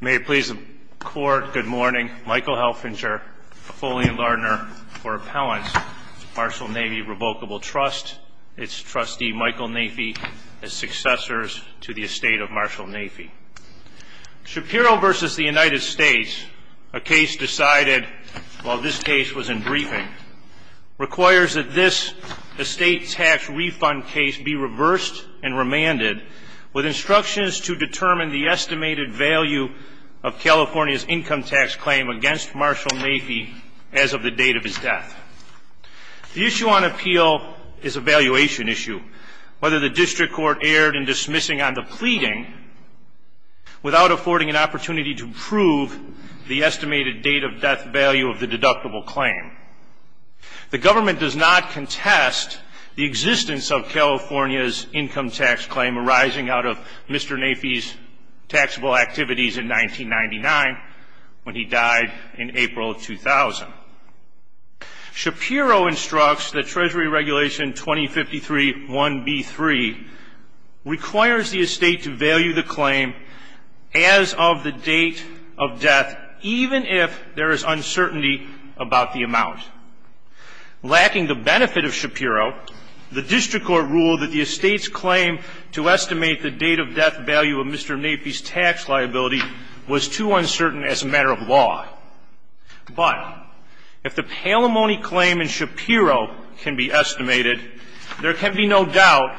May it please the Court, good morning. Michael Helfinger, a Foley and Lardner for Appellants to Marshall Naify Revocable Trust, its trustee Michael Naify, as successors to the estate of Marshall Naify. Shapiro v. The United States, a case decided while this case was in briefing, requires that this estate tax refund case be reversed and remanded with instructions to determine the estimated value of California's income tax claim against Marshall Naify as of the date of his death. The issue on appeal is a valuation issue, whether the district court erred in dismissing on the pleading without affording an opportunity to prove the estimated date of death value of the deductible claim. The government does not contest the existence of California's income tax claim arising out of Mr. Naify's taxable activities in 1999 when he died in April of 2000. Shapiro instructs that Treasury Regulation 2053-1B3 requires the estate to value the claim as of the date of death, even if there is uncertainty about the amount. Lacking the benefit of Shapiro, the district court ruled that the estate's claim to estimate the date of death value of Mr. Naify's tax liability was too uncertain as a matter of law. But if the palimony claim in Shapiro can be estimated, there can be no doubt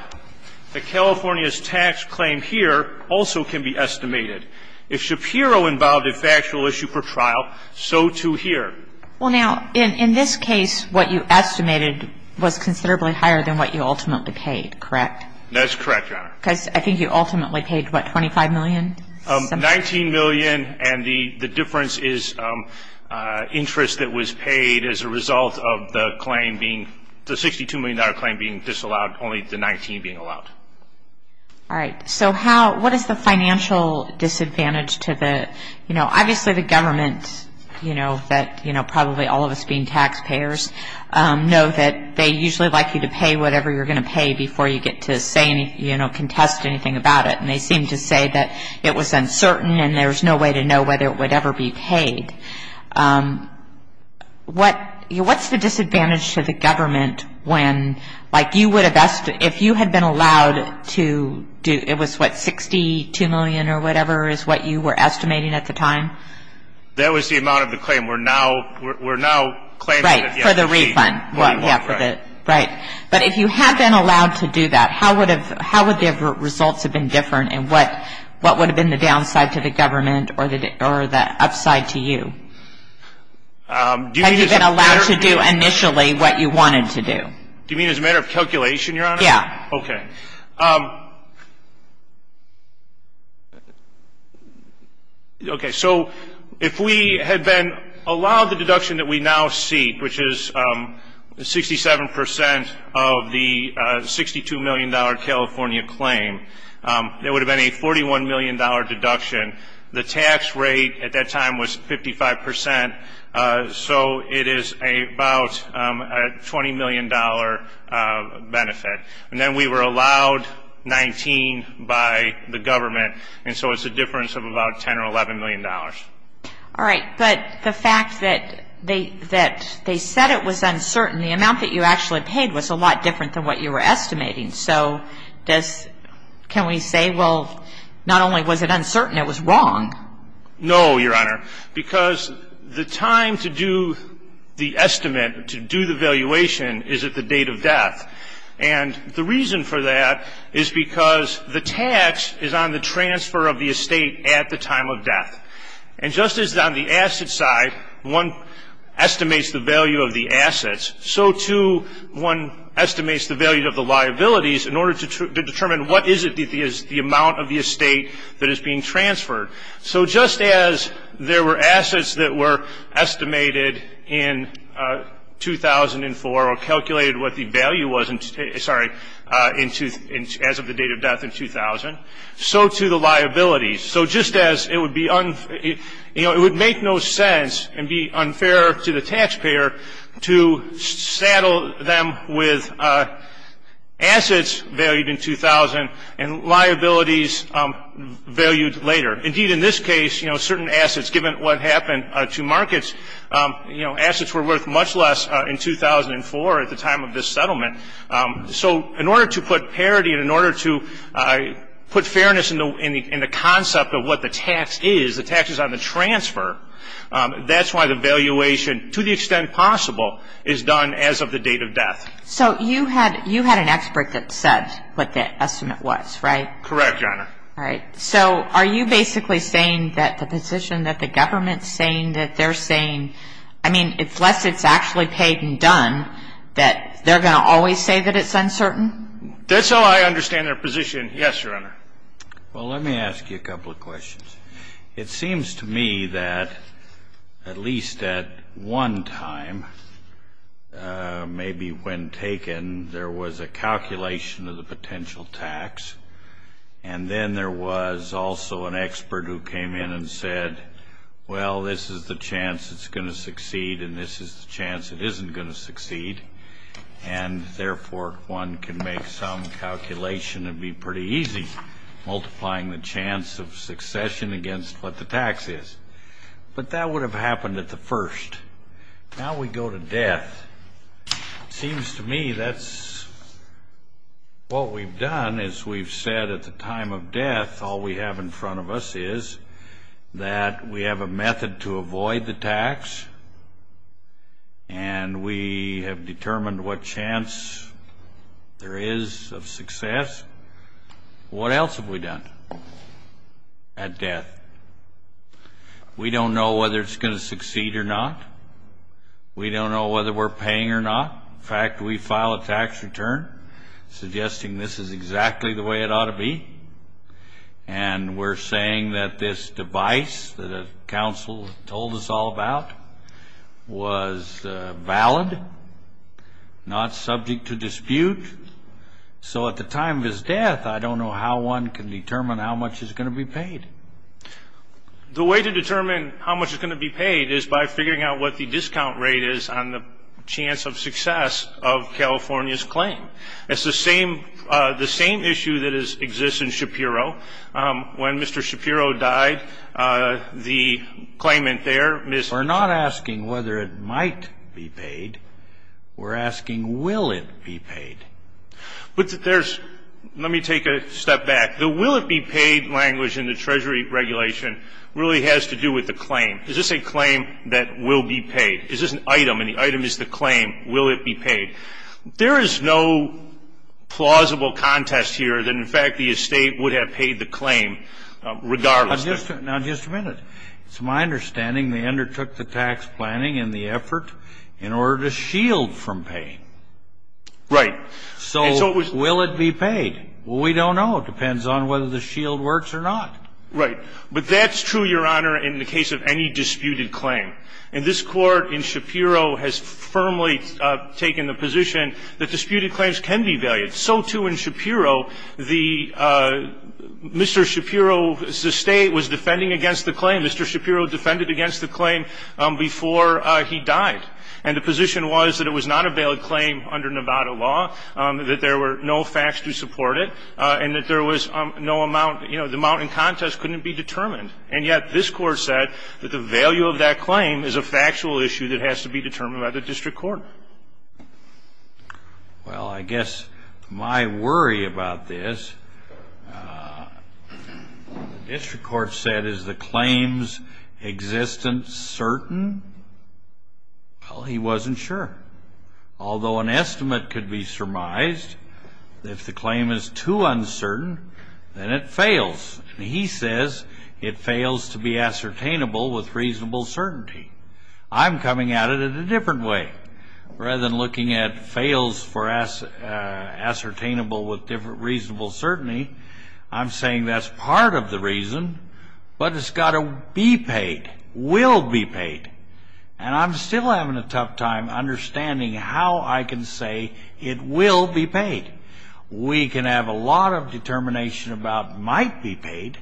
that California's tax claim here also can be estimated. If Shapiro involved a factual issue for trial, so too here. Well, now, in this case, what you estimated was considerably higher than what you ultimately paid, correct? That's correct, Your Honor. Because I think you ultimately paid, what, $25 million? $19 million, and the difference is interest that was paid as a result of the $62 million claim being disallowed, only the $19 million being allowed. All right, so how, what is the financial disadvantage to the, you know, obviously the government, you know, that, you know, probably all of us being taxpayers, know that they usually like you to pay whatever you're going to pay before you get to say anything, you know, contest anything about it. And they seem to say that it was uncertain, and there's no way to know whether it would ever be paid. What, you know, what's the disadvantage to the government when, like, you would have asked, if you had been allowed to do, it was what, $62 million or whatever is what you were estimating at the time? That was the amount of the claim. We're now, we're now claiming that, yeah. Right, for the refund. Yeah, for the, right. But if you had been allowed to do that, how would have, how would the results have been different? And what, what would have been the downside to the government or the, or the upside to you? Do you mean as a matter of? Had you been allowed to do initially what you wanted to do? Do you mean as a matter of calculation, Your Honor? Yeah. Okay. Okay, so if we had been allowed the deduction that we now see, which is 67% of the $62 million California claim, there would have been a $41 million deduction. The tax rate at that time was 55%, so it is about a $20 million benefit. And then we were allowed 19 by the government, and so it's a difference of about $10 or $11 million. All right. But the fact that they, that they said it was uncertain, the amount that you actually paid was a lot different than what you were estimating. So does, can we say, well, not only was it uncertain, it was wrong? No, Your Honor, because the time to do the estimate, to do the valuation, is at the date of death. And the reason for that is because the tax is on the transfer of the estate at the time of death. And just as on the asset side, one estimates the value of the assets, so too one estimates the value of the liabilities in order to determine what is it, the amount of the estate that is being transferred. So just as there were assets that were estimated in 2004 or calculated what the value was in, sorry, as of the date of death in 2000, so too the liabilities. So just as it would be, you know, it would make no sense and be unfair to the taxpayer to saddle them with assets valued in 2000 and liabilities valued later. Indeed, in this case, you know, certain assets, given what happened to markets, you know, assets were worth much less in 2004 at the time of this settlement. So in order to put parity and in order to put fairness in the concept of what the tax is, the tax is on the transfer, that's why the valuation, to the extent possible, is done as of the date of death. So you had an expert that said what the estimate was, right? Correct, Your Honor. All right. So are you basically saying that the position that the government is saying that they're saying, I mean, unless it's actually paid and done, that they're going to always say that it's uncertain? That's how I understand their position, yes, Your Honor. Well, let me ask you a couple of questions. It seems to me that at least at one time, maybe when taken, there was a calculation of the potential tax, and then there was also an expert who came in and said, well, this is the chance it's going to succeed and this is the chance it isn't going to succeed, and therefore, one can make some calculation and be pretty easy, multiplying the chance of succession against what the tax is. But that would have happened at the first. Now we go to death. It seems to me that's what we've done is we've said at the time of death, all we have in front of us is that we have a method to avoid the tax and we have determined what chance there is of success. What else have we done at death? We don't know whether it's going to succeed or not. We don't know whether we're paying or not. In fact, we file a tax return suggesting this is exactly the way it ought to be, and we're saying that this device that a counsel told us all about was valid, not subject to dispute. So at the time of his death, I don't know how one can determine how much is going to be paid. The way to determine how much is going to be paid is by figuring out what the discount rate is on the chance of success of California's claim. It's the same issue that exists in Shapiro. When Mr. Shapiro died, the claimant there, Ms. We're not asking whether it might be paid. We're asking will it be paid. But there's, let me take a step back. The will it be paid language in the Treasury regulation really has to do with the claim. Is this a claim that will be paid? Is this an item, and the item is the claim, will it be paid? There is no plausible contest here that in fact the estate would have paid the claim regardless. Now, just a minute. It's my understanding they undertook the tax planning and the effort in order to shield from pay. Right. So will it be paid? We don't know. It depends on whether the shield works or not. Right. But that's true, Your Honor, in the case of any disputed claim. And this Court in Shapiro has firmly taken the position that disputed claims can be valued. So, too, in Shapiro, the Mr. Shapiro's estate was defending against the claim. Mr. Shapiro defended against the claim before he died. And the position was that it was not a valid claim under Nevada law, that there were no facts to support it, and that there was no amount, you know, the amount in contest couldn't be determined. And yet this Court said that the value of that claim is a factual issue that has to be determined by the district court. Well, I guess my worry about this, the district court said, is the claim's existence certain? Well, he wasn't sure. Although an estimate could be surmised that if the claim is too uncertain, then it fails. He says it fails to be ascertainable with reasonable certainty. I'm coming at it in a different way. Rather than looking at fails for ascertainable with reasonable certainty, I'm saying that's part of the reason, but it's got to be paid, will be paid. And I'm still having a tough time understanding how I can say it will be paid. We can have a lot of determination about might be paid,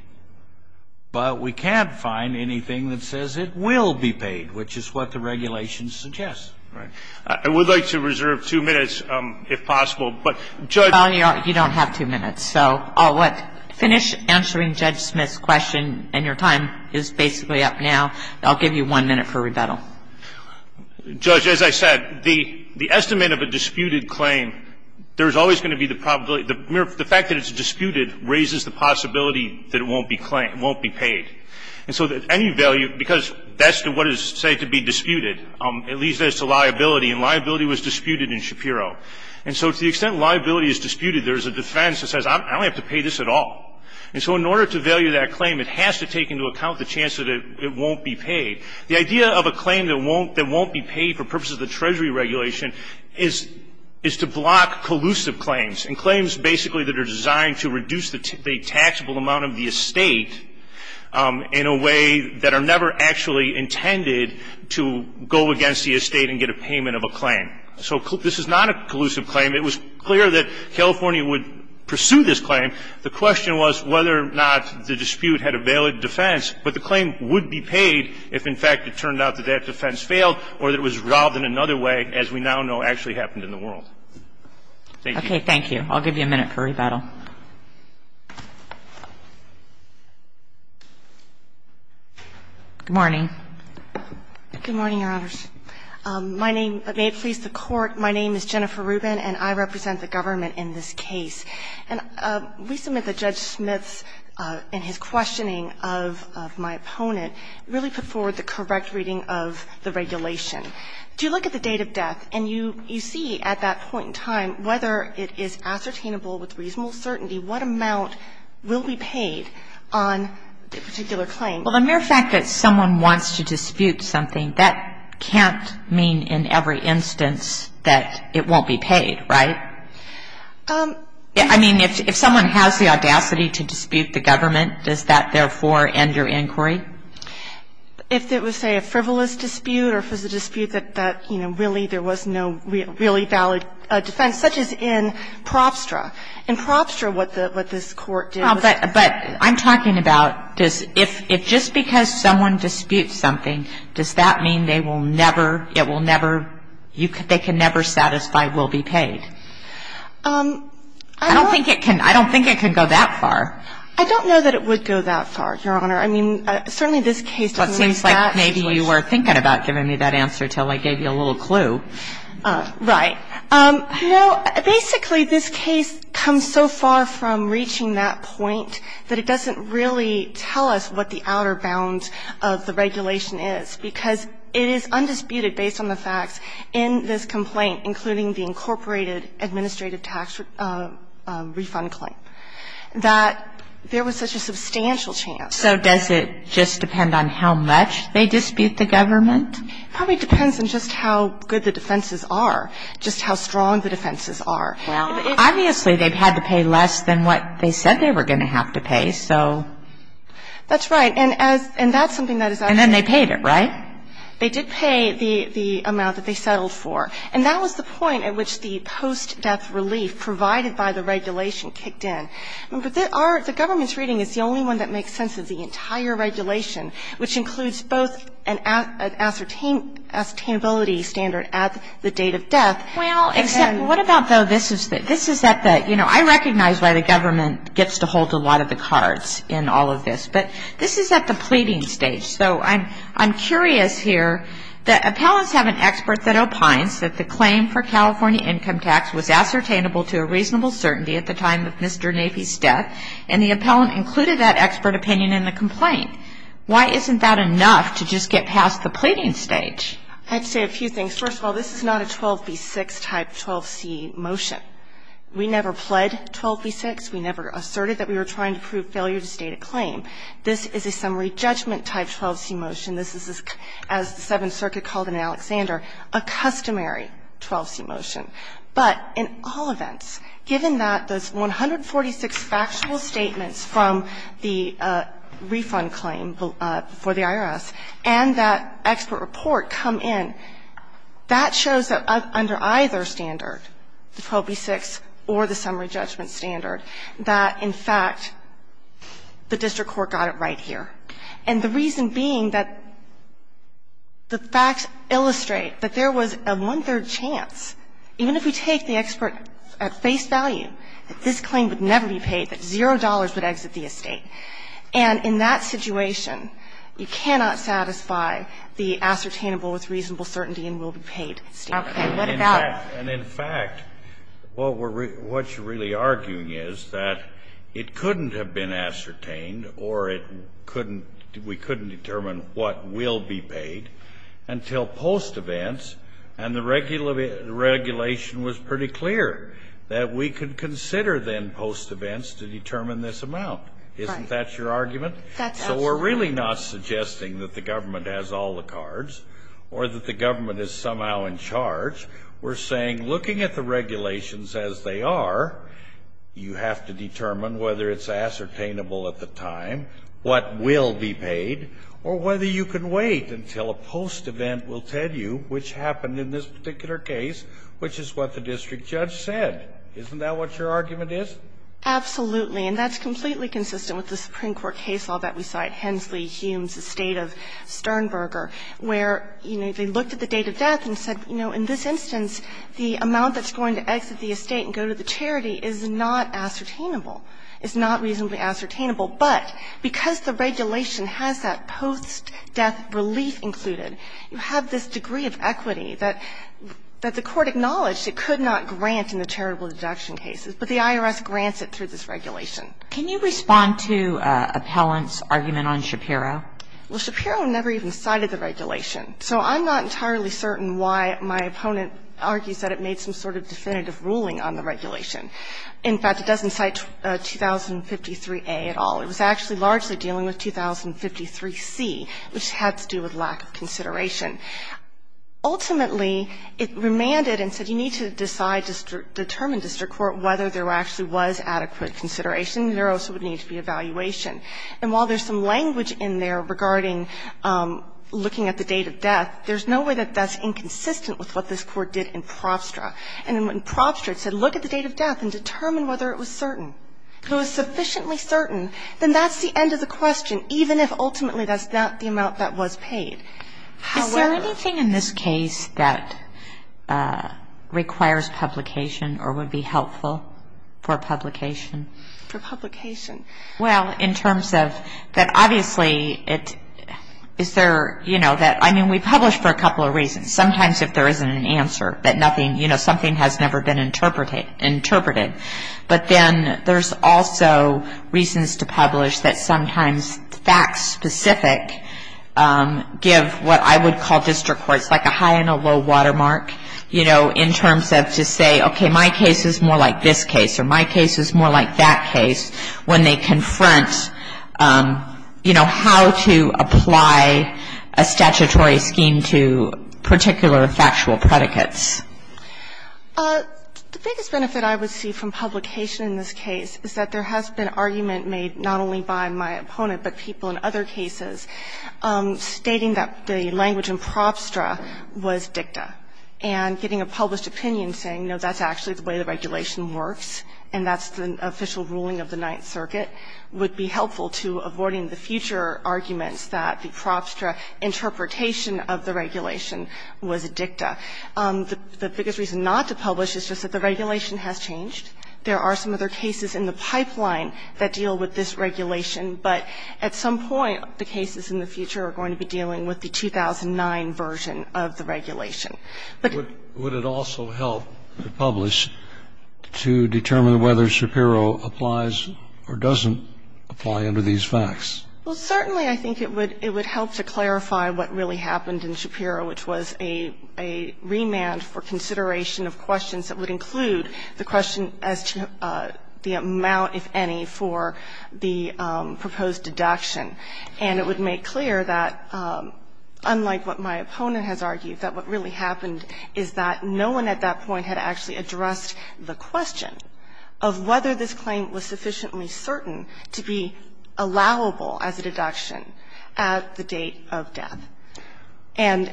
but we can't find anything that says it will be paid, which is what the regulations suggest. Right. I would like to reserve two minutes, if possible. But, Judge ---- Well, you don't have two minutes. So, finish answering Judge Smith's question, and your time is basically up now. I'll give you one minute for rebuttal. Judge, as I said, the estimate of a disputed claim, there's always going to be the probability, the fact that it's disputed raises the possibility that it won't be claimed, won't be paid. And so that any value, because that's what is said to be disputed, at least as to liability, and liability was disputed in Shapiro. And so to the extent liability is disputed, there's a defense that says I don't have to pay this at all. And so in order to value that claim, it has to take into account the chance that it won't be paid. The idea of a claim that won't be paid for purposes of the Treasury regulation is to block collusive claims. And claims basically that are designed to reduce the taxable amount of the estate in a way that are never actually intended to go against the estate and get a payment of a claim. So this is not a collusive claim. It was clear that California would pursue this claim. The question was whether or not the dispute had a valid defense. But the claim would be paid if, in fact, it turned out that that defense failed or that it was resolved in another way, as we now know actually happened in the world. Thank you. Okay. Thank you. I'll give you a minute for rebuttal. Good morning. Good morning, Your Honors. My name – may it please the Court. My name is Jennifer Rubin, and I represent the government in this case. And we submit that Judge Smith, in his questioning of my opponent, really put forward the correct reading of the regulation. Do you look at the date of death, and you see at that point in time whether it is ascertainable with reasonable certainty what amount will be paid on the particular claim? Well, the mere fact that someone wants to dispute something, that can't mean in every instance that it won't be paid, right? I mean, if someone has the audacity to dispute the government, does that, therefore, end your inquiry? If it was, say, a frivolous dispute or if it was a dispute that, you know, really there was no really valid defense, such as in Propstra. In Propstra, what this Court did was – But I'm talking about if just because someone disputes something, does that mean they will never – it will never – they can never satisfy that they will be paid? I don't think it can – I don't think it can go that far. I don't know that it would go that far, Your Honor. I mean, certainly this case – Well, it seems like maybe you were thinking about giving me that answer until I gave you a little clue. Right. You know, basically this case comes so far from reaching that point that it doesn't really tell us what the outer bounds of the regulation is because it is undisputed based on the facts in this complaint, including the incorporated administrative tax refund claim, that there was such a substantial chance. So does it just depend on how much they dispute the government? It probably depends on just how good the defenses are, just how strong the defenses are. Well, obviously, they've had to pay less than what they said they were going to have to pay, so. That's right. And as – and that's something that is actually – And then they paid it, right? They did pay the amount that they settled for. And that was the point at which the post-death relief provided by the regulation kicked in. Remember, the government's reading is the only one that makes sense of the entire regulation, which includes both an ascertainability standard at the date of death. Well, except – what about, though, this is at the – you know, I recognize why the government gets to hold a lot of the cards in all of this. But this is at the pleading stage. So I'm curious here. The appellants have an expert that opines that the claim for California income tax was ascertainable to a reasonable certainty at the time of Mr. Nafee's death. And the appellant included that expert opinion in the complaint. Why isn't that enough to just get past the pleading stage? I'd say a few things. First of all, this is not a 12B6 type 12C motion. We never pled 12B6. We never asserted that we were trying to prove failure to state a claim. This is a summary judgment type 12C motion. This is, as the Seventh Circuit called it in Alexander, a customary 12C motion. But in all events, given that those 146 factual statements from the refund claim for the IRS and that expert report come in, that shows that under either standard, the 12B6 or the summary judgment standard, that, in fact, the district court got it right here. And the reason being that the facts illustrate that there was a one-third chance, even if we take the expert at face value, that this claim would never be paid, that $0 would exit the estate. And in that situation, you cannot satisfy the ascertainable with reasonable certainty and will be paid standard. Okay. What about it? And, in fact, what you're really arguing is that it couldn't have been ascertained or we couldn't determine what will be paid until post-events and the regulation was pretty clear that we could consider then post-events to determine this amount. Right. Isn't that your argument? That's absolutely right. So we're really not suggesting that the government has all the cards or that the government is somehow in charge. We're saying looking at the regulations as they are, you have to determine whether it's ascertainable at the time, what will be paid, or whether you can wait until a post-event will tell you which happened in this particular case, which is what the district judge said. Isn't that what your argument is? Absolutely. And that's completely consistent with the Supreme Court case law that we saw at Hensley Humes' estate of Sternberger, where, you know, they looked at the date of death and said, you know, in this instance, the amount that's going to exit the estate and go to the charity is not ascertainable, is not reasonably ascertainable. But because the regulation has that post-death relief included, you have this degree of equity that the Court acknowledged it could not grant in the charitable deduction cases, but the IRS grants it through this regulation. Can you respond to Appellant's argument on Shapiro? Well, Shapiro never even cited the regulation. So I'm not entirely certain why my opponent argues that it made some sort of definitive ruling on the regulation. In fact, it doesn't cite 2053a at all. It was actually largely dealing with 2053c, which had to do with lack of consideration. Ultimately, it remanded and said you need to decide, determine, district court, whether there actually was adequate consideration. There also would need to be evaluation. And while there's some language in there regarding looking at the date of death, there's no way that that's inconsistent with what this Court did in Probstra. And when Probstra said look at the date of death and determine whether it was certain, if it was sufficiently certain, then that's the end of the question, even if ultimately that's not the amount that was paid. Is there anything in this case that requires publication or would be helpful for publication? For publication? Well, in terms of that obviously it is there, you know, that, I mean, we publish for a couple of reasons. Sometimes if there isn't an answer that nothing, you know, something has never been interpreted. But then there's also reasons to publish that sometimes facts specific give what I would call district courts like a high and a low watermark, you know, in terms of to say, okay, my case is more like this case or my case is more like that case when they confront, you know, how to apply a statutory scheme to particular factual predicates. The biggest benefit I would see from publication in this case is that there has been argument made not only by my opponent but people in other cases stating that the language in Probstra was dicta and getting a published opinion saying, you know, that's actually the way the regulation works and that's the official ruling of the Ninth Circuit would be helpful to avoiding the future arguments that the Probstra interpretation of the regulation was dicta. The biggest reason not to publish is just that the regulation has changed. There are some other cases in the pipeline that deal with this regulation, but at some point the cases in the future are going to be dealing with the 2009 version of the regulation. Would it also help to publish to determine whether Shapiro applies or doesn't apply under these facts? Well, certainly I think it would help to clarify what really happened in Shapiro, which was a remand for consideration of questions that would include the question as to the amount, if any, for the proposed deduction. And it would make clear that, unlike what my opponent has argued, that what really happened is that no one at that point had actually addressed the question of whether this claim was sufficiently certain to be allowable as a deduction at the date of death. And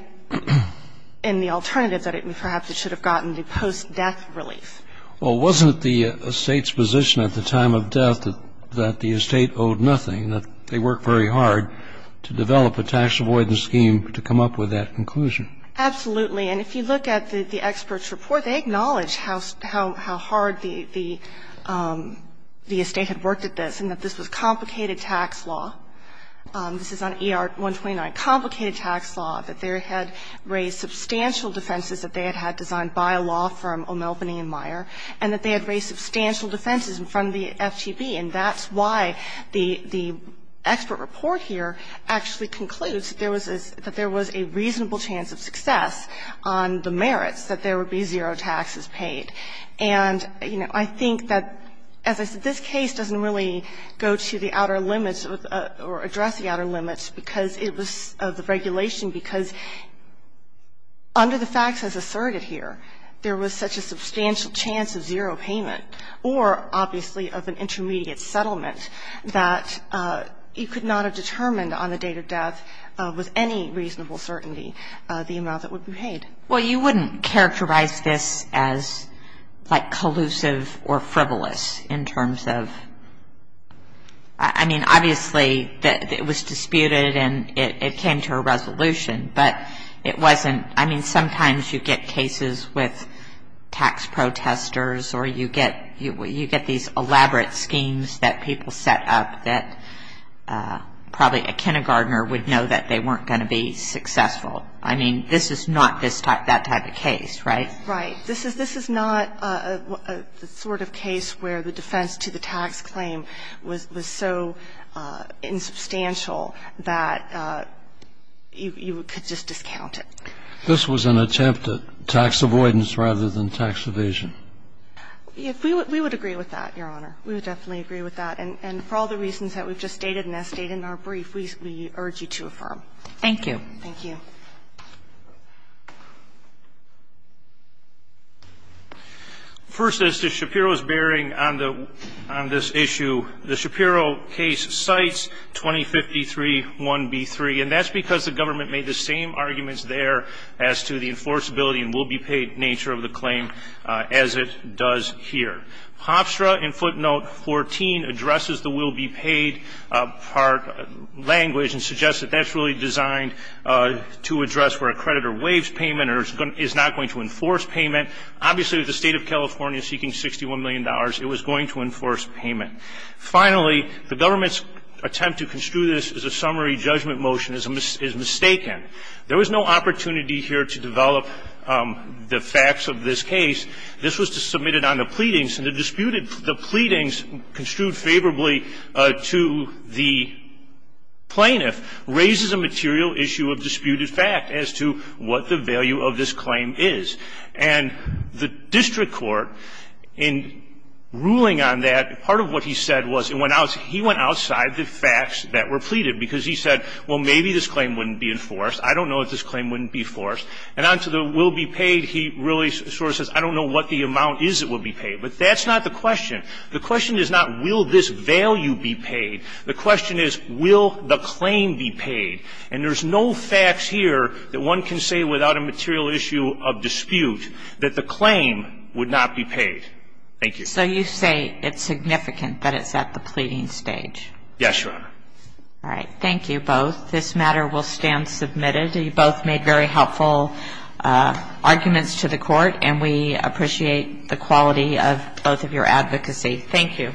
in the alternative, that perhaps it should have gotten the post-death relief. Well, wasn't the estate's position at the time of death that the estate owed nothing, that they worked very hard to develop a tax avoidance scheme to come up with that conclusion? Absolutely. And if you look at the experts' report, they acknowledge how hard the estate had worked at this and that this was complicated tax law. This is on ER-129, complicated tax law, that they had raised substantial defenses that they had had designed by a law firm, O'Malbany & Meyer, and that they had raised substantial defenses in front of the FTB. And that's why the expert report here actually concludes that there was a reasonable chance of success on the merits that there would be zero taxes paid. And, you know, I think that, as I said, this case doesn't really go to the outer limits or address the outer limits of the regulation because under the facts as asserted here, there was such a substantial chance of zero payment or, obviously, of an intermediate settlement that it could not have determined on the date of death with any reasonable certainty the amount that would be paid. Well, you wouldn't characterize this as, like, collusive or frivolous in terms of... I mean, obviously, it was disputed and it came to a resolution, but it wasn't... I mean, sometimes you get cases with tax protesters or you get these elaborate schemes that people set up that probably a kindergartner would know that they weren't going to be successful. I mean, this is not that type of case, right? Right. This is not the sort of case where the defense to the tax claim was so insubstantial that you could just discount it. This was an attempt at tax avoidance rather than tax evasion. We would agree with that, Your Honor. We would definitely agree with that. And for all the reasons that we've just stated and as stated in our brief, we urge you to affirm. Thank you. Thank you. First, as to Shapiro's bearing on this issue, the Shapiro case cites 2053 1B3, and that's because the government made the same arguments there as to the enforceability and will-be-paid nature of the claim as it does here. Hofstra, in footnote 14, addresses the will-be-paid part language and suggests that that's really designed to address where a creditor waives payment or is not going to enforce payment. Obviously, with the State of California seeking $61 million, it was going to enforce payment. Finally, the government's attempt to construe this as a summary judgment motion is mistaken. There was no opportunity here to develop the facts of this case. This was submitted on the pleadings, and the disputed the pleadings, construed favorably to the plaintiff, raises a material issue of disputed fact as to what the value of this claim is. And the district court, in ruling on that, part of what he said was he went outside the facts that were pleaded because he said, well, maybe this claim wouldn't be enforced. I don't know if this claim wouldn't be enforced. And onto the will-be-paid, he really sort of says, I don't know what the amount is that will be paid. But that's not the question. The question is not will this value be paid. The question is will the claim be paid. And there's no facts here that one can say without a material issue of dispute that the claim would not be paid. Thank you. So you say it's significant that it's at the pleading stage? Yes, Your Honor. All right. Thank you both. This matter will stand submitted. You both made very helpful arguments to the court, and we appreciate the quality of both of your advocacy. Thank you.